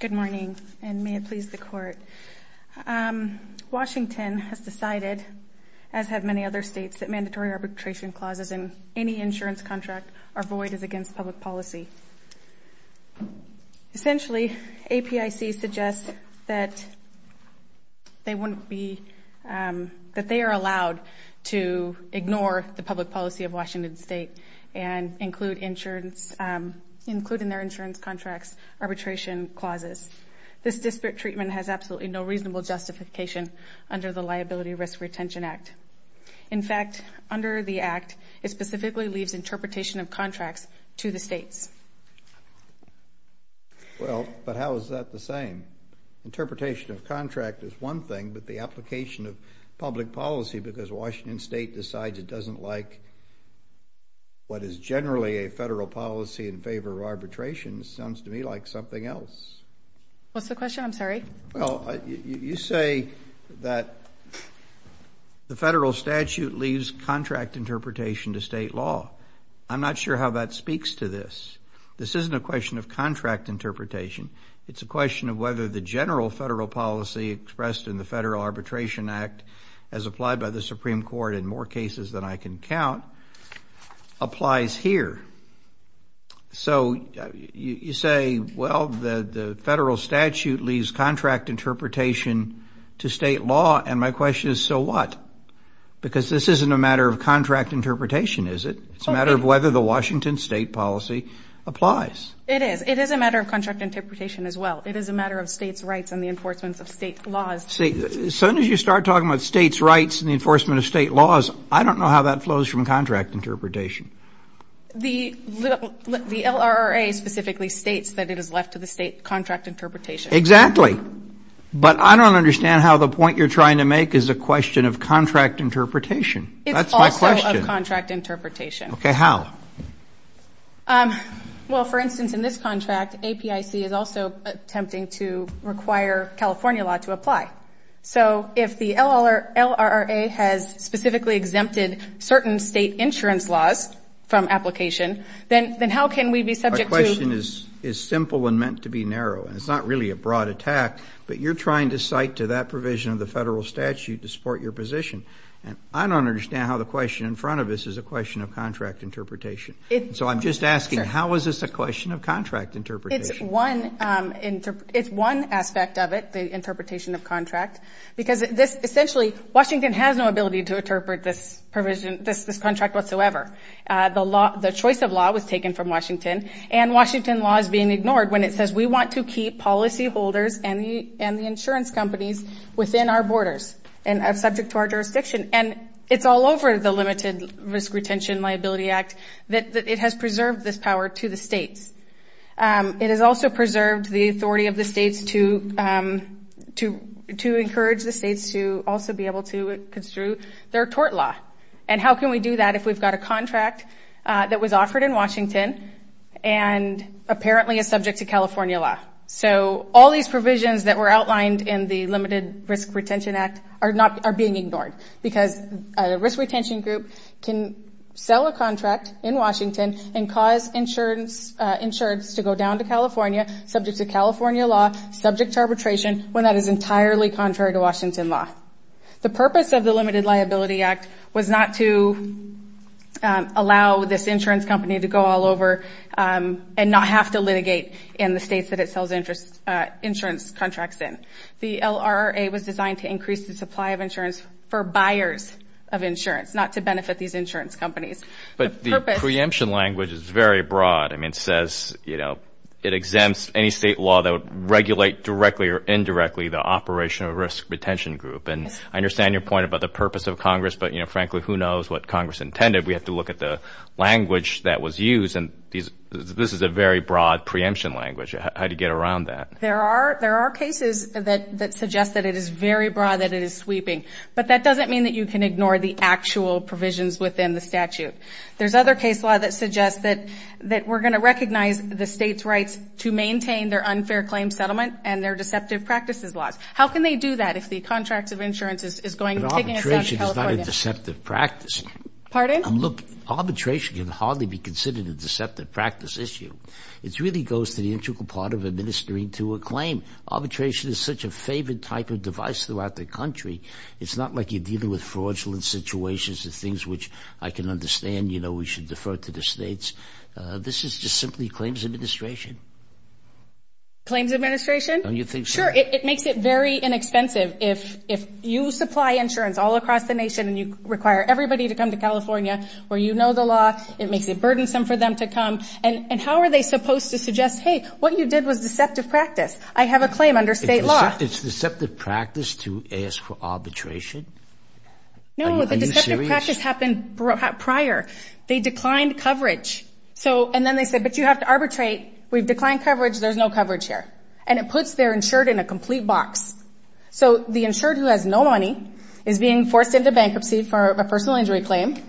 Good morning, and may it please the Court. Washington has decided, as have many other states, that mandatory arbitration clauses in any insurance contract are void as against public policy. Essentially, APIC suggests that they are allowed to ignore the public policy of Washington State and include in their insurance contracts arbitration clauses. This disparate treatment has absolutely no reasonable justification under the Liability Risk Retention Act. In fact, under the Act, it specifically leaves interpretation of contracts to the states. Well, but how is that the same? Interpretation of contract is one thing, but the application of public policy because Washington State decides it doesn't like what is generally a federal policy in favor of arbitration sounds to me like something else. What's the question? I'm sorry. Well, you say that the federal statute leaves contract interpretation to state law. I'm not sure how that speaks to this. This isn't a question of contract interpretation. It's a question of whether the general federal policy expressed in the Federal Arbitration Act as applied by the Supreme Court in more cases than I can count applies here. So you say, well, the federal statute leaves contract interpretation to state law, and my question is, so what? Because this isn't a matter of contract interpretation, is it? It's a matter of whether the Washington State policy applies. It is. It is a matter of contract interpretation as well. It is a matter of states' rights and the enforcement of state laws. As soon as you start talking about states' rights and the enforcement of state laws, I don't know how that flows from contract interpretation. The LRA specifically states that it is left to the state contract interpretation. Exactly. But I don't understand how the point you're trying to make is a question of contract interpretation. That's my question. It's also of contract interpretation. Okay. How? Well, for instance, in this contract, APIC is also attempting to require California law to apply. So if the LRA has specifically exempted certain state insurance laws from application, then how can we be subject to ---- Our question is simple and meant to be narrow, and it's not really a broad attack, but you're trying to cite to that provision of the federal statute to support your position. I don't understand how the question in front of us is a question of contract interpretation. So I'm just asking, how is this a question of contract interpretation? It's one aspect of it, the interpretation of contract, because essentially Washington has no ability to interpret this provision, this contract whatsoever. The choice of law was taken from Washington, and Washington law is being ignored when it says we want to keep policyholders and the insurance companies within our borders and subject to our jurisdiction. And it's all over the Limited Risk Retention Liability Act that it has preserved this power to the states. It has also preserved the authority of the states to encourage the states to also be able to construe their tort law. And how can we do that if we've got a contract that was offered in Washington and apparently is subject to California law? So all these provisions that were outlined in the Limited Risk Retention Act are being ignored because a risk retention group can sell a contract in Washington and cause insurance to go down to California, subject to California law, subject to arbitration, when that is entirely contrary to Washington law. The purpose of the Limited Liability Act was not to allow this insurance company to go all over and not have to litigate in the states that it sells insurance contracts in. The LRRA was designed to increase the supply of insurance for buyers of insurance, not to benefit these insurance companies. But the preemption language is very broad. I mean, it says, you know, it exempts any state law that would regulate directly or indirectly the operational risk retention group. And I understand your point about the purpose of Congress, but, you know, frankly, who knows what Congress intended. We have to look at the language that was used, and this is a very broad preemption language. How do you get around that? There are cases that suggest that it is very broad, that it is sweeping. But that doesn't mean that you can ignore the actual provisions within the statute. There's other case law that suggests that we're going to recognize the state's rights to maintain their unfair claim settlement and their deceptive practices laws. How can they do that if the contract of insurance is going to California? But arbitration is not a deceptive practice. Pardon? Look, arbitration can hardly be considered a deceptive practice issue. It really goes to the integral part of administering to a claim. Arbitration is such a favored type of device throughout the country. It's not like you're dealing with fraudulent situations, the things which I can understand, you know, we should defer to the states. This is just simply claims administration. Claims administration? Don't you think so? Sure. It makes it very inexpensive. If you supply insurance all across the nation and you require everybody to come to California where you know the law, it makes it burdensome for them to come. And how are they supposed to suggest, hey, what you did was deceptive practice. I have a claim under state law. It's deceptive practice to ask for arbitration? No, the deceptive practice happened prior. They declined coverage. And then they said, but you have to arbitrate. We've declined coverage. There's no coverage here. And it puts their insured in a complete box. So the insured who has no money is being forced into bankruptcy for a personal injury claim,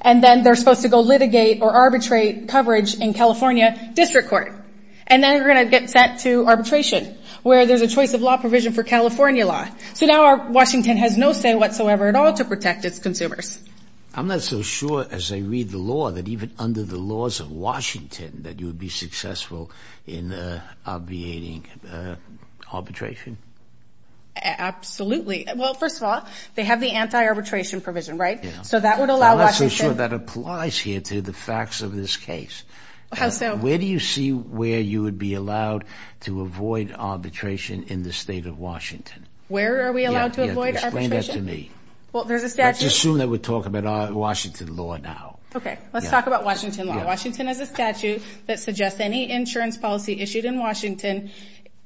and then they're supposed to go litigate or arbitrate coverage in California district court. And then they're going to get sent to arbitration where there's a choice of law provision for California law. So now Washington has no say whatsoever at all to protect its consumers. I'm not so sure as I read the law that even under the laws of Washington that you would be successful in obviating arbitration. Absolutely. Well, first of all, they have the anti-arbitration provision, right? So that would allow Washington. I'm not so sure that applies here to the facts of this case. How so? Where do you see where you would be allowed to avoid arbitration in the state of Washington? Where are we allowed to avoid arbitration? Explain that to me. Well, there's a statute. Let's assume that we're talking about Washington law now. Okay. Let's talk about Washington law. So Washington has a statute that suggests any insurance policy issued in Washington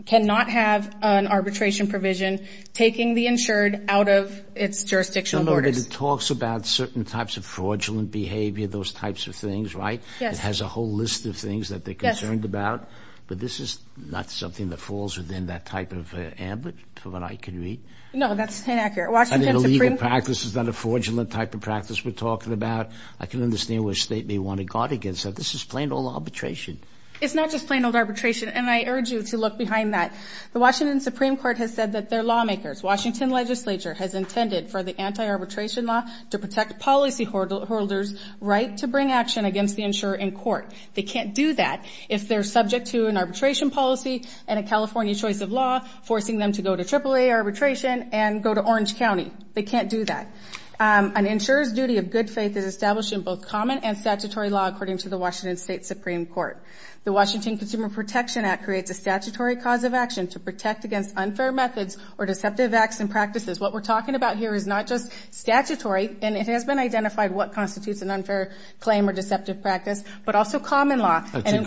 cannot have an arbitration provision taking the insured out of its jurisdictional borders. No, no, but it talks about certain types of fraudulent behavior, those types of things, right? Yes. It has a whole list of things that they're concerned about. Yes. But this is not something that falls within that type of ambit, from what I can read. No, that's inaccurate. I think the legal practice is not a fraudulent type of practice we're talking about. I can understand why the state may want to guard against that. This is plain old arbitration. It's not just plain old arbitration, and I urge you to look behind that. The Washington Supreme Court has said that their lawmakers, Washington legislature, has intended for the anti-arbitration law to protect policyholders' right to bring action against the insurer in court. They can't do that if they're subject to an arbitration policy and a California choice of law, forcing them to go to AAA arbitration and go to Orange County. They can't do that. An insurer's duty of good faith is established in both common and statutory law, according to the Washington State Supreme Court. The Washington Consumer Protection Act creates a statutory cause of action to protect against unfair methods or deceptive acts and practices. What we're talking about here is not just statutory, and it has been identified what constitutes an unfair claim or deceptive practice, but also common law.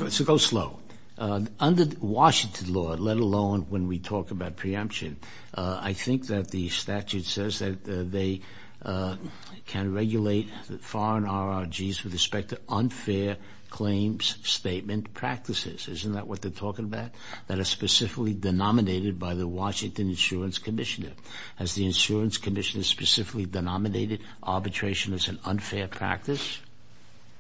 So go slow. Under Washington law, let alone when we talk about preemption, I think that the statute says that they can regulate foreign RRGs with respect to unfair claims, statement, practices. Isn't that what they're talking about? That are specifically denominated by the Washington Insurance Commissioner. Has the Insurance Commissioner specifically denominated arbitration as an unfair practice?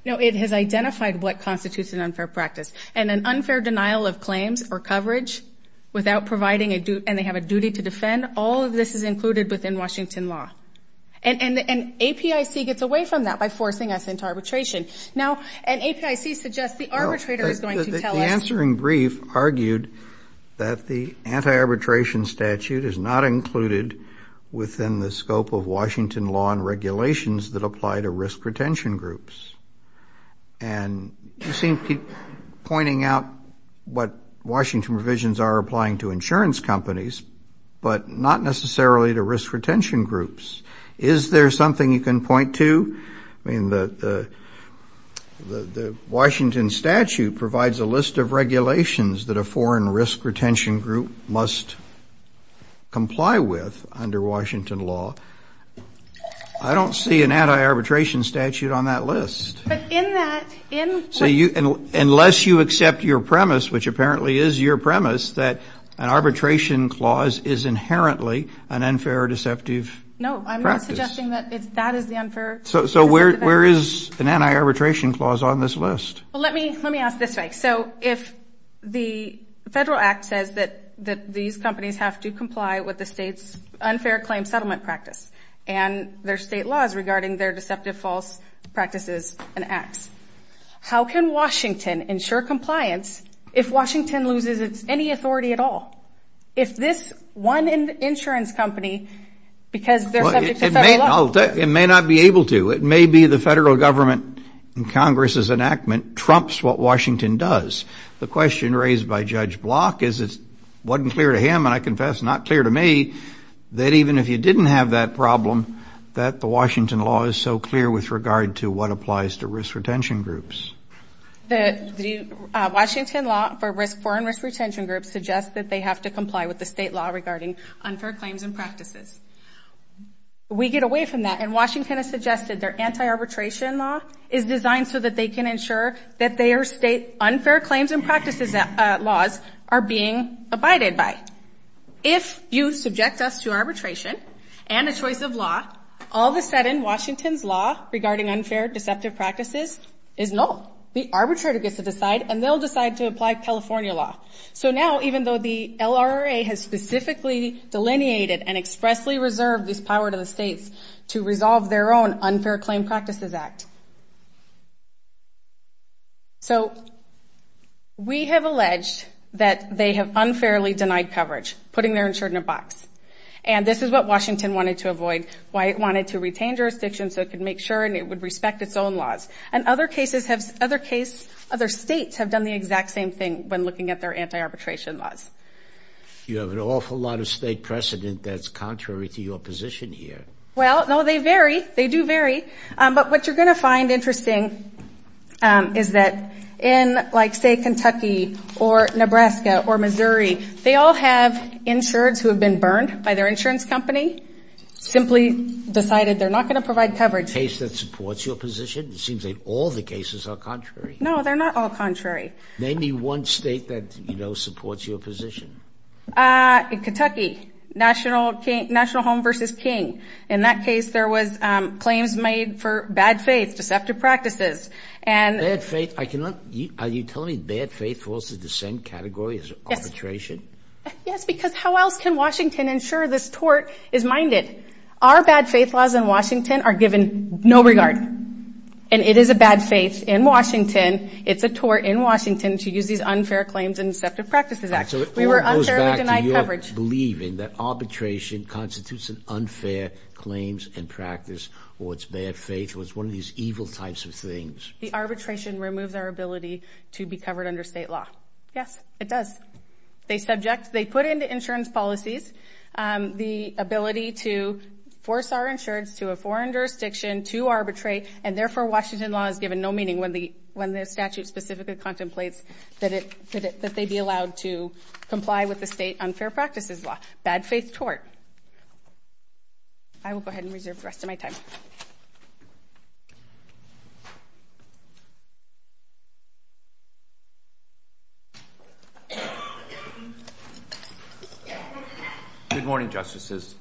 No, it has identified what constitutes an unfair practice. And an unfair denial of claims or coverage without providing a duty, and they have a duty to defend, all of this is included within Washington law. And APIC gets away from that by forcing us into arbitration. Now, and APIC suggests the arbitrator is going to tell us. The answering brief argued that the anti-arbitration statute is not included within the scope of Washington law and regulations that apply to risk retention groups. And you seem to keep pointing out what Washington provisions are applying to insurance companies, but not necessarily to risk retention groups. Is there something you can point to? I mean, the Washington statute provides a list of regulations that a foreign risk retention group must comply with under Washington law. I don't see an anti-arbitration statute on that list. But in that, in. Unless you accept your premise, which apparently is your premise, that an arbitration clause is inherently an unfair or deceptive practice. No, I'm not suggesting that that is the unfair. So where is an anti-arbitration clause on this list? Well, let me ask this way. So if the federal act says that these companies have to comply with the state's unfair claim settlement practice and their state laws regarding their deceptive false practices and acts, how can Washington ensure compliance if Washington loses any authority at all? If this one insurance company, because they're subject to federal law. It may not be able to. It may be the federal government in Congress's enactment trumps what Washington does. The question raised by Judge Block is it wasn't clear to him, and I confess not clear to me, that even if you didn't have that problem, that the Washington law is so clear with regard to what applies to risk retention groups. The Washington law for foreign risk retention groups suggests that they have to comply with the state law regarding unfair claims and practices. We get away from that. And Washington has suggested their anti-arbitration law is designed so that they can ensure that their state unfair claims and practices laws are being abided by. If you subject us to arbitration and a choice of law, all of a sudden Washington's law regarding unfair deceptive practices is null. The arbitrator gets to decide, and they'll decide to apply California law. So now, even though the LRA has specifically delineated and expressly reserved this power to the states to resolve their own unfair claim practices act. So we have alleged that they have unfairly denied coverage, putting their insurance in a box. And this is what Washington wanted to avoid. Why it wanted to retain jurisdiction so it could make sure and it would respect its own laws. And other states have done the exact same thing when looking at their anti-arbitration laws. You have an awful lot of state precedent that's contrary to your position here. Well, no, they vary. They do vary. But what you're going to find interesting is that in, like, say, Kentucky or Nebraska or Missouri, they all have insureds who have been burned by their insurance company, simply decided they're not going to provide coverage. Is there a case that supports your position? It seems like all the cases are contrary. No, they're not all contrary. Name me one state that, you know, supports your position. In Kentucky, National Home v. King. In that case, there was claims made for bad faith, deceptive practices. Bad faith? Are you telling me bad faith falls in the same category as arbitration? Yes, because how else can Washington ensure this tort is minded? Our bad faith laws in Washington are given no regard. And it is a bad faith in Washington. It's a tort in Washington to use these unfair claims and deceptive practices. So it all goes back to your believing that arbitration constitutes an unfair claims and practice or it's bad faith or it's one of these evil types of things. The arbitration removes our ability to be covered under state law. Yes, it does. They subject, they put into insurance policies the ability to force our insurance to a foreign jurisdiction to arbitrate, and therefore Washington law is given no meaning when the statute specifically contemplates that they be allowed to comply with the state unfair practices law. Bad faith tort. I will go ahead and reserve the rest of my time. Good morning, Justices.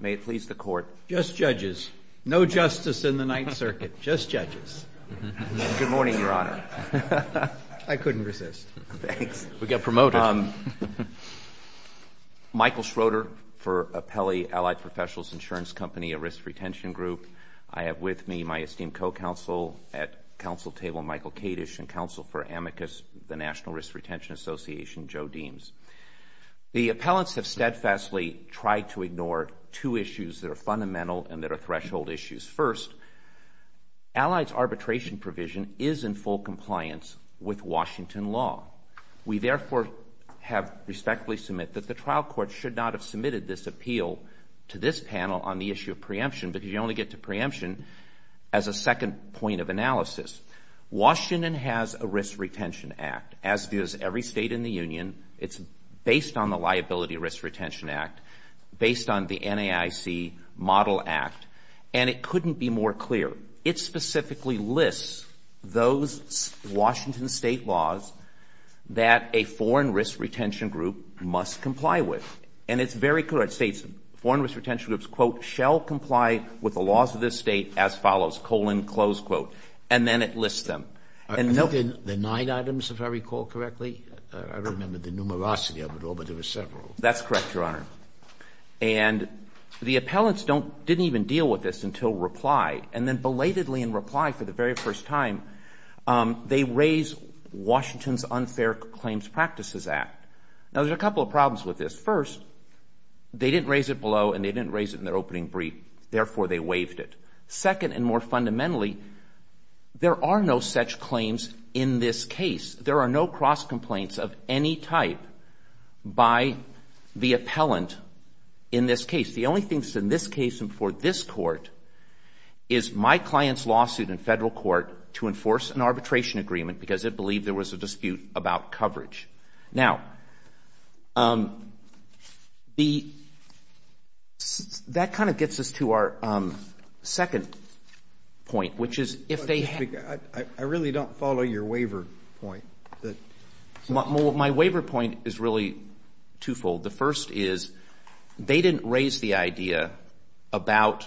May it please the Court. Just judges. No justice in the Ninth Circuit. Just judges. Good morning, Your Honor. I couldn't resist. Thanks. We got promoted. Michael Schroeder for Apelli Allied Professionals Insurance Company, a risk retention group. I have with me my esteemed co-counsel at counsel table, Michael Kadish, and counsel for Amicus, the National Risk Retention Association, Joe Deems. The appellants have steadfastly tried to ignore two issues that are fundamental and that are threshold issues. First, Allied's arbitration provision is in full compliance with Washington law. We therefore have respectfully submit that the trial court should not have submitted this appeal to this panel on the issue of preemption because you only get to preemption as a second point of analysis. Washington has a risk retention act, as does every state in the union. It's based on the Liability Risk Retention Act, based on the NAIC Model Act, and it couldn't be more clear. It specifically lists those Washington state laws that a foreign risk retention group must comply with. And it's very clear. It states foreign risk retention groups, quote, shall comply with the laws of this state as follows, colon, close quote. And then it lists them. The nine items, if I recall correctly? I remember the numerosity of it all, but there were several. That's correct, Your Honor. And the appellants didn't even deal with this until reply. And then belatedly in reply for the very first time, they raise Washington's Unfair Claims Practices Act. Now, there's a couple of problems with this. First, they didn't raise it below and they didn't raise it in their opening brief. Therefore, they waived it. Second and more fundamentally, there are no such claims in this case. There are no cross complaints of any type by the appellant in this case. The only things in this case and for this court is my client's lawsuit in federal court to enforce an arbitration agreement because it believed there was a dispute about coverage. Now, that kind of gets us to our second point, which is if they have. I really don't follow your waiver point. My waiver point is really twofold. The first is they didn't raise the idea about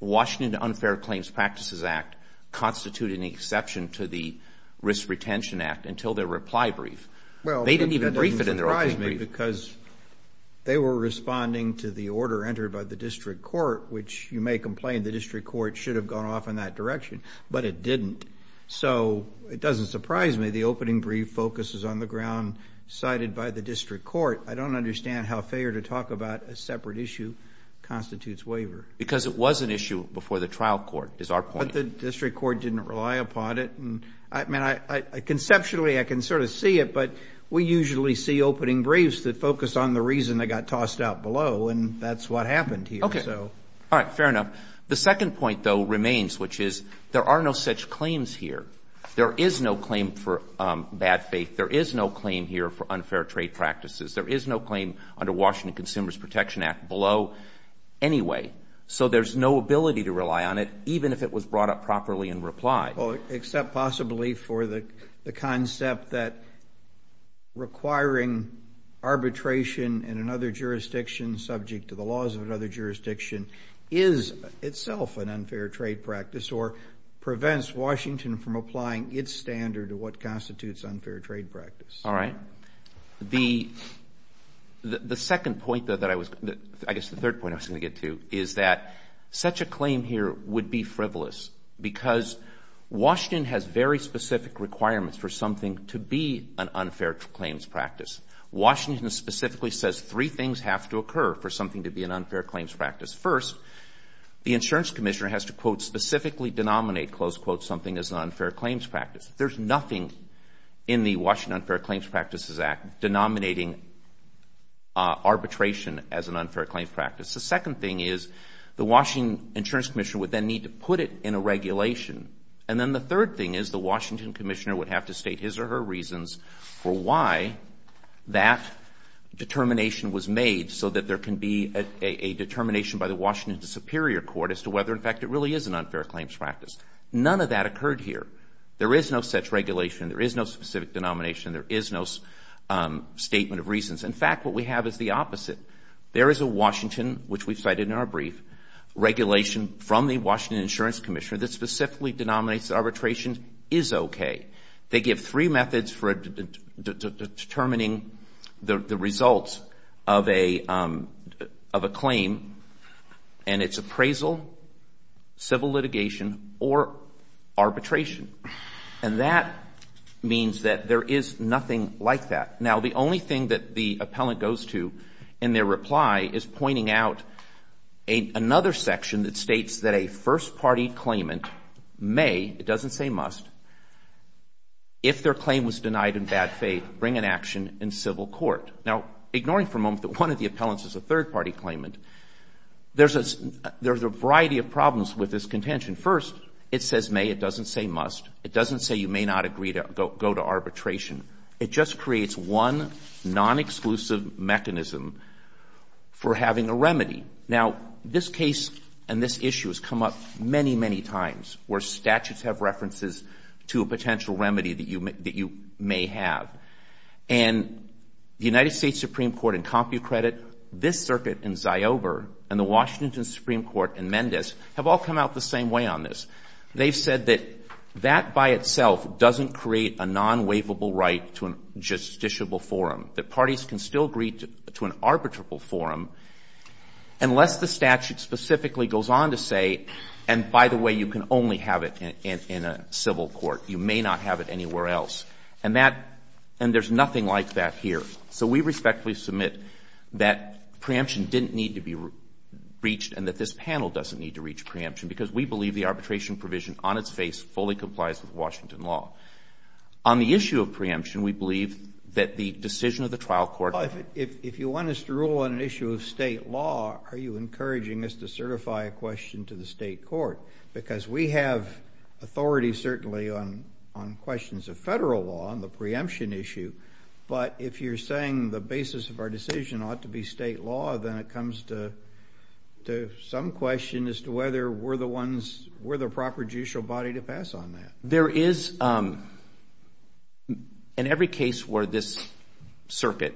Washington Unfair Claims Practices Act constituting an exception to the Risk Retention Act until their reply brief. They didn't even brief it in their opening brief. Well, that didn't surprise me because they were responding to the order entered by the district court, which you may complain the district court should have gone off in that direction, but it didn't. So it doesn't surprise me the opening brief focuses on the ground cited by the district court. I don't understand how failure to talk about a separate issue constitutes waiver. Because it was an issue before the trial court is our point. But the district court didn't rely upon it. I mean, conceptually, I can sort of see it, but we usually see opening briefs that focus on the reason they got tossed out below, and that's what happened here. All right, fair enough. The second point, though, remains, which is there are no such claims here. There is no claim for bad faith. There is no claim here for unfair trade practices. There is no claim under Washington Consumers Protection Act below anyway. So there's no ability to rely on it, even if it was brought up properly in reply. Except possibly for the concept that requiring arbitration in another jurisdiction, subject to the laws of another jurisdiction, is itself an unfair trade practice or prevents Washington from applying its standard to what constitutes unfair trade practice. All right. The second point that I was going to get to, I guess the third point I was going to get to, is that such a claim here would be frivolous because Washington has very specific requirements for something to be an unfair claims practice. Washington specifically says three things have to occur for something to be an unfair claims practice. First, the insurance commissioner has to, quote, specifically denominate, close quote, something as an unfair claims practice. There's nothing in the Washington Unfair Claims Practices Act denominating arbitration as an unfair claims practice. The second thing is the Washington insurance commissioner would then need to put it in a regulation. And then the third thing is the Washington commissioner would have to state his or her reasons for why that determination was made so that there can be a determination by the Washington Superior Court as to whether, in fact, it really is an unfair claims practice. None of that occurred here. There is no such regulation. There is no specific denomination. There is no statement of reasons. In fact, what we have is the opposite. There is a Washington, which we've cited in our brief, regulation from the Washington insurance commissioner that specifically denominates arbitration is okay. They give three methods for determining the results of a claim, and it's appraisal, civil litigation, or arbitration. And that means that there is nothing like that. Now, the only thing that the appellant goes to in their reply is pointing out another section that states that a first-party claimant may, it doesn't say must, if their claim was denied in bad faith, bring an action in civil court. Now, ignoring for a moment that one of the appellants is a third-party claimant, there's a variety of problems with this contention. First, it says may. It doesn't say must. It doesn't say you may not agree to go to arbitration. It just creates one non-exclusive mechanism for having a remedy. Now, this case and this issue has come up many, many times, where statutes have references to a potential remedy that you may have. And the United States Supreme Court in CompuCredit, this circuit in Ziober, and the Washington Supreme Court in Mendes have all come out the same way on this. They've said that that by itself doesn't create a non-waivable right to a justiciable forum, that parties can still agree to an arbitrable forum unless the statute specifically goes on to say, and by the way, you can only have it in a civil court. You may not have it anywhere else. And that, and there's nothing like that here. So we respectfully submit that preemption didn't need to be reached and that this arbitration provision on its face fully complies with Washington law. On the issue of preemption, we believe that the decision of the trial court. If you want us to rule on an issue of state law, are you encouraging us to certify a question to the state court? Because we have authority certainly on questions of federal law on the preemption issue. But if you're saying the basis of our decision ought to be state law, then it comes to some question as to whether we're the ones, we're the proper judicial body to pass on that. There is, in every case where this circuit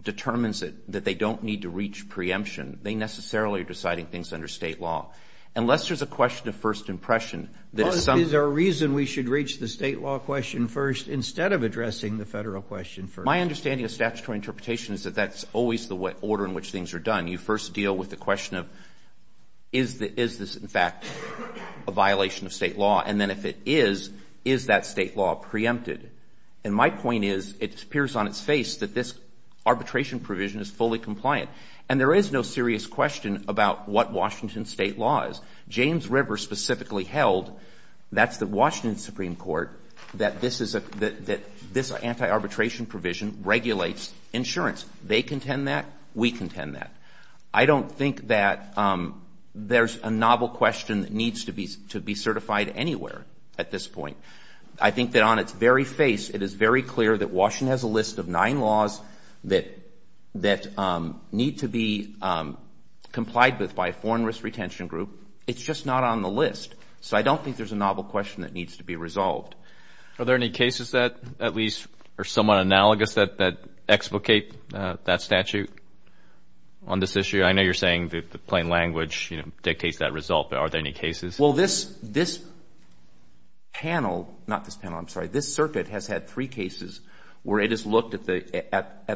determines it, that they don't need to reach preemption, they necessarily are deciding things under state law. Unless there's a question of first impression. Is there a reason we should reach the state law question first instead of addressing the federal question first? My understanding of statutory interpretation is that that's always the order in which things are done. You first deal with the question of is this, in fact, a violation of state law? And then if it is, is that state law preempted? And my point is it appears on its face that this arbitration provision is fully compliant. And there is no serious question about what Washington state law is. James River specifically held, that's the Washington Supreme Court, that this is a — that this anti-arbitration provision regulates insurance. They contend that. We contend that. I don't think that there's a novel question that needs to be certified anywhere at this point. I think that on its very face, it is very clear that Washington has a list of nine laws that need to be complied with by a foreign risk retention group. It's just not on the list. So I don't think there's a novel question that needs to be resolved. Are there any cases that at least are somewhat analogous that explicate that statute on this issue? I know you're saying that the plain language dictates that result, but are there any cases? Well, this panel — not this panel, I'm sorry. This circuit has had three cases where it has looked at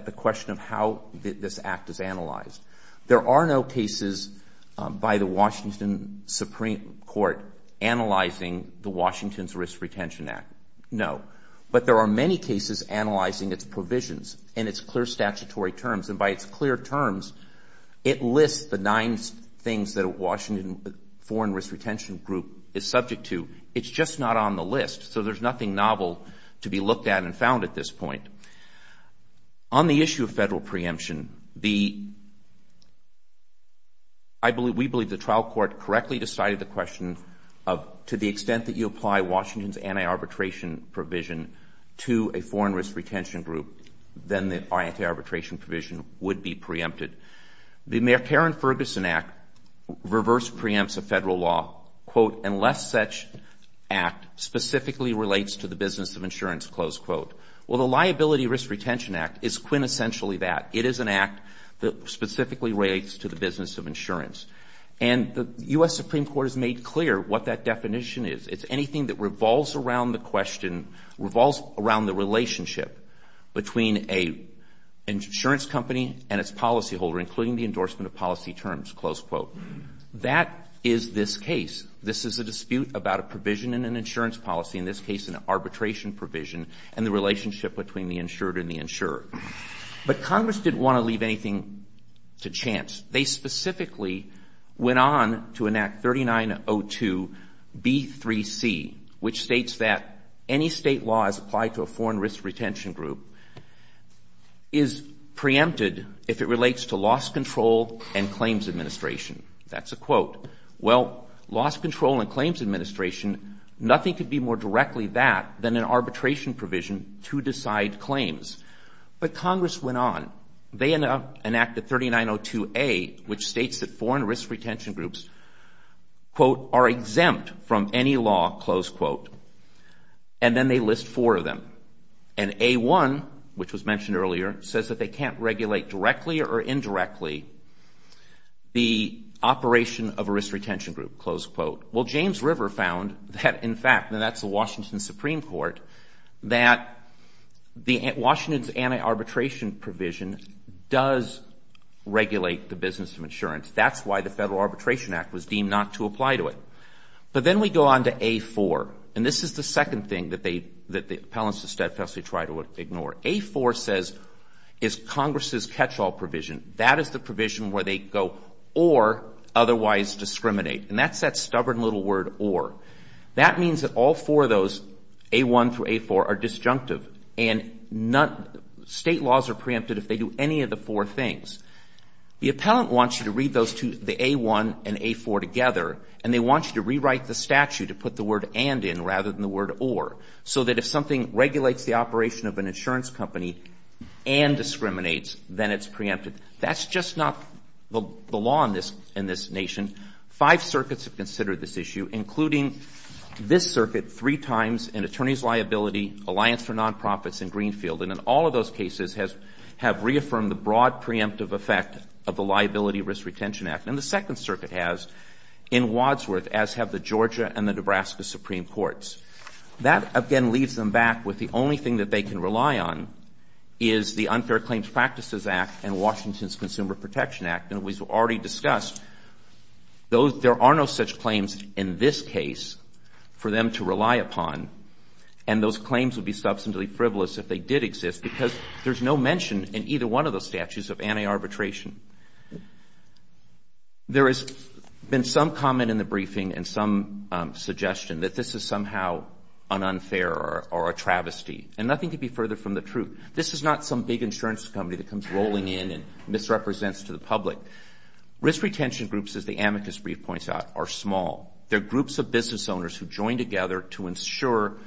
the question of how this act is analyzed. There are no cases by the Washington Supreme Court analyzing the Washington's Risk Retention Act. No. But there are many cases analyzing its provisions and its clear statutory terms. And by its clear terms, it lists the nine things that a Washington foreign risk retention group is subject to. It's just not on the list. So there's nothing novel to be looked at and found at this point. On the issue of federal preemption, we believe the trial court correctly decided the question of, to the extent that you apply Washington's anti-arbitration provision to a foreign risk retention group, then the anti-arbitration provision would be preempted. The Mayor Karen Ferguson Act reverse preempts a federal law, quote, unless such act specifically relates to the business of insurance, close quote. Well, the Liability Risk Retention Act is quintessentially that. It is an act that specifically relates to the business of insurance. And the U.S. Supreme Court has made clear what that definition is. It's anything that revolves around the question — revolves around the relationship between an insurance company and its policyholder, including the endorsement of policy terms, close quote. That is this case. This is a dispute about a provision in an insurance policy, in this case an arbitration provision, and the relationship between the insured and the insurer. But Congress didn't want to leave anything to chance. They specifically went on to enact 3902B3C, which states that any state law as applied to a foreign risk retention group is preempted if it relates to loss control and claims administration. That's a quote. Well, loss control and claims administration, nothing could be more directly that than an arbitration provision to decide claims. But Congress went on. They enacted 3902A, which states that foreign risk retention groups, quote, are exempt from any law, close quote. And then they list four of them. And A1, which was mentioned earlier, says that they can't regulate directly or indirectly the operation of a risk retention group, close quote. Well, James River found that, in fact, and that's the Washington Supreme Court, that Washington's anti-arbitration provision does regulate the business of insurance. That's why the Federal Arbitration Act was deemed not to apply to it. But then we go on to A4. And this is the second thing that the appellants to steadfastly try to ignore. A4 says is Congress's catch-all provision. That is the provision where they go or otherwise discriminate. And that's that stubborn little word or. That means that all four of those, A1 through A4, are disjunctive. And state laws are preempted if they do any of the four things. The appellant wants you to read those two, the A1 and A4 together, and they want you to rewrite the statute to put the word and in rather than the word or, so that if something regulates the operation of an insurance company and discriminates, then it's preempted. That's just not the law in this nation. Five circuits have considered this issue, including this circuit three times in attorneys' liability, Alliance for Nonprofits, and Greenfield. And in all of those cases have reaffirmed the broad preemptive effect of the Liability Risk Retention Act. And the Second Circuit has in Wadsworth, as have the Georgia and the Nebraska Supreme Courts. That, again, leaves them back with the only thing that they can rely on is the Unfair Claims Practices Act and Washington's Consumer Protection Act. And as we've already discussed, there are no such claims in this case for them to rely upon. And those claims would be substantially frivolous if they did exist, because there's no mention in either one of those statutes of anti-arbitration. There has been some comment in the briefing and some suggestion that this is somehow an unfair or a travesty, and nothing could be further from the truth. This is not some big insurance company that comes rolling in and misrepresents to the public. Risk retention groups, as the amicus brief points out, are small. They're groups of business owners who join together to ensure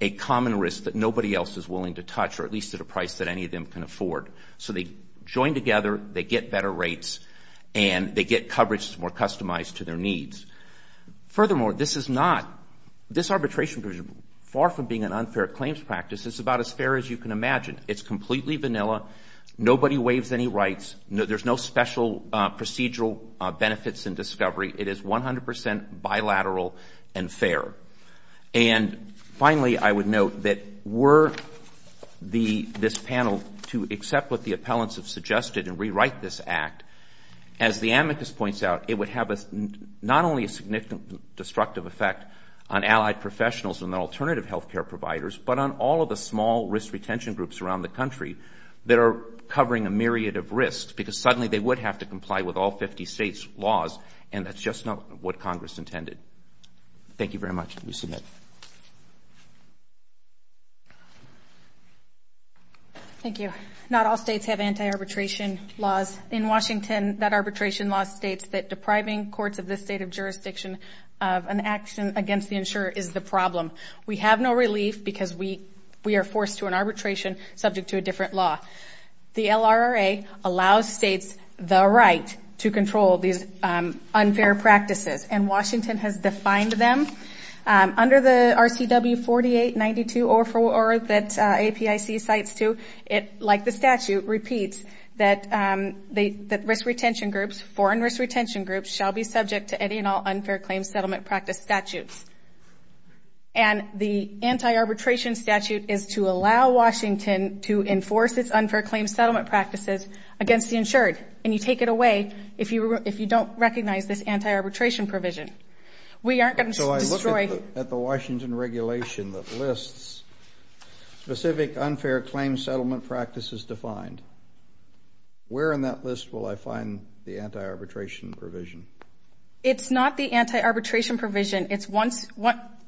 a common risk that nobody else is willing to touch, or at least at a price that any of them can afford. So they join together, they get better rates, and they get coverage that's more customized to their needs. Furthermore, this is not, this arbitration, far from being an unfair claims practice, it's about as fair as you can imagine. It's completely vanilla. Nobody waives any rights. There's no special procedural benefits in discovery. It is 100 percent bilateral and fair. And finally, I would note that were this panel to accept what the appellants have suggested and rewrite this act, as the amicus points out, it would have not only a significant destructive effect on allied professionals and alternative health care providers, but on all of the small risk retention groups around the country that are covering a myriad of risks, because suddenly they would have to comply with all 50 states' laws, and that's just not what Congress intended. Thank you very much. You may submit. Thank you. Not all states have anti-arbitration laws. In Washington, that arbitration law states that depriving courts of this state of jurisdiction of an action against the insurer is the problem. We have no relief because we are forced to an arbitration subject to a different law. The LRRA allows states the right to control these unfair practices, and Washington has defined them. Under the RCW 4892-044 that APIC cites, too, it, like the statute, repeats that risk retention groups, foreign risk retention groups, shall be subject to any and all unfair claim settlement practice statutes. And the anti-arbitration statute is to allow Washington to enforce its unfair claim settlement practices against the insured, and you take it away if you don't recognize this anti-arbitration provision. So I look at the Washington regulation that lists specific unfair claim settlement practices defined. Where in that list will I find the anti-arbitration provision? It's not the anti-arbitration provision.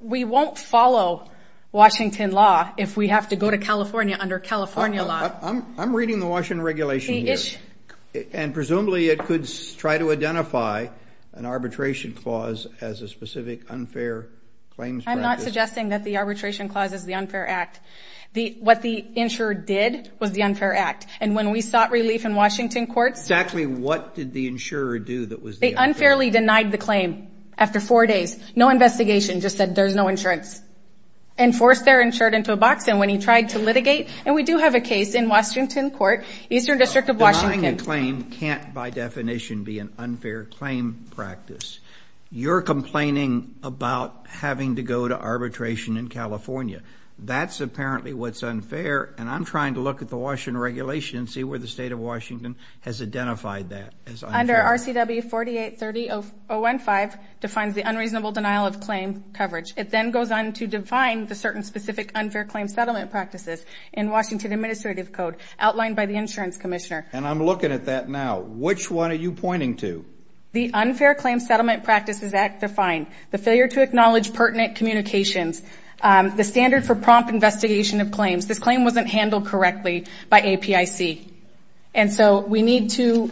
We won't follow Washington law if we have to go to California under California law. I'm reading the Washington regulation here, and presumably it could try to identify an arbitration clause as a specific unfair claims practice. I'm not suggesting that the arbitration clause is the unfair act. What the insurer did was the unfair act, and when we sought relief in Washington courts. Exactly what did the insurer do that was the unfair act? They unfairly denied the claim after four days, no investigation, just said there's no insurance, and forced their insured into a box, and when he tried to litigate, and we do have a case in Washington court, Eastern District of Washington. Denying a claim can't by definition be an unfair claim practice. You're complaining about having to go to arbitration in California. That's apparently what's unfair, and I'm trying to look at the Washington regulation and see where the state of Washington has identified that as unfair. Under RCW 4830.015 defines the unreasonable denial of claim coverage. It then goes on to define the certain specific unfair claims settlement practices in Washington administrative code outlined by the insurance commissioner. And I'm looking at that now. Which one are you pointing to? The Unfair Claim Settlement Practices Act defined the failure to acknowledge pertinent communications, the standard for prompt investigation of claims. This claim wasn't handled correctly by APIC. And so we need to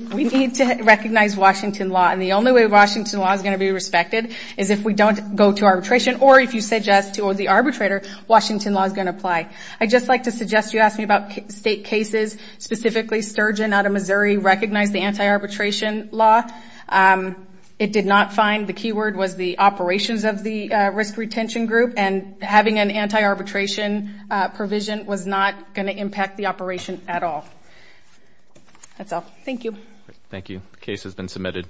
recognize Washington law, and the only way Washington law is going to be respected is if we don't go to arbitration or if you suggest to the arbitrator Washington law is going to apply. I'd just like to suggest you ask me about state cases, specifically Sturgeon out of Missouri recognized the anti-arbitration law. It did not find the keyword was the operations of the risk retention group, and having an anti-arbitration provision was not going to impact the operation at all. That's all. Thank you. Thank you. The case has been submitted.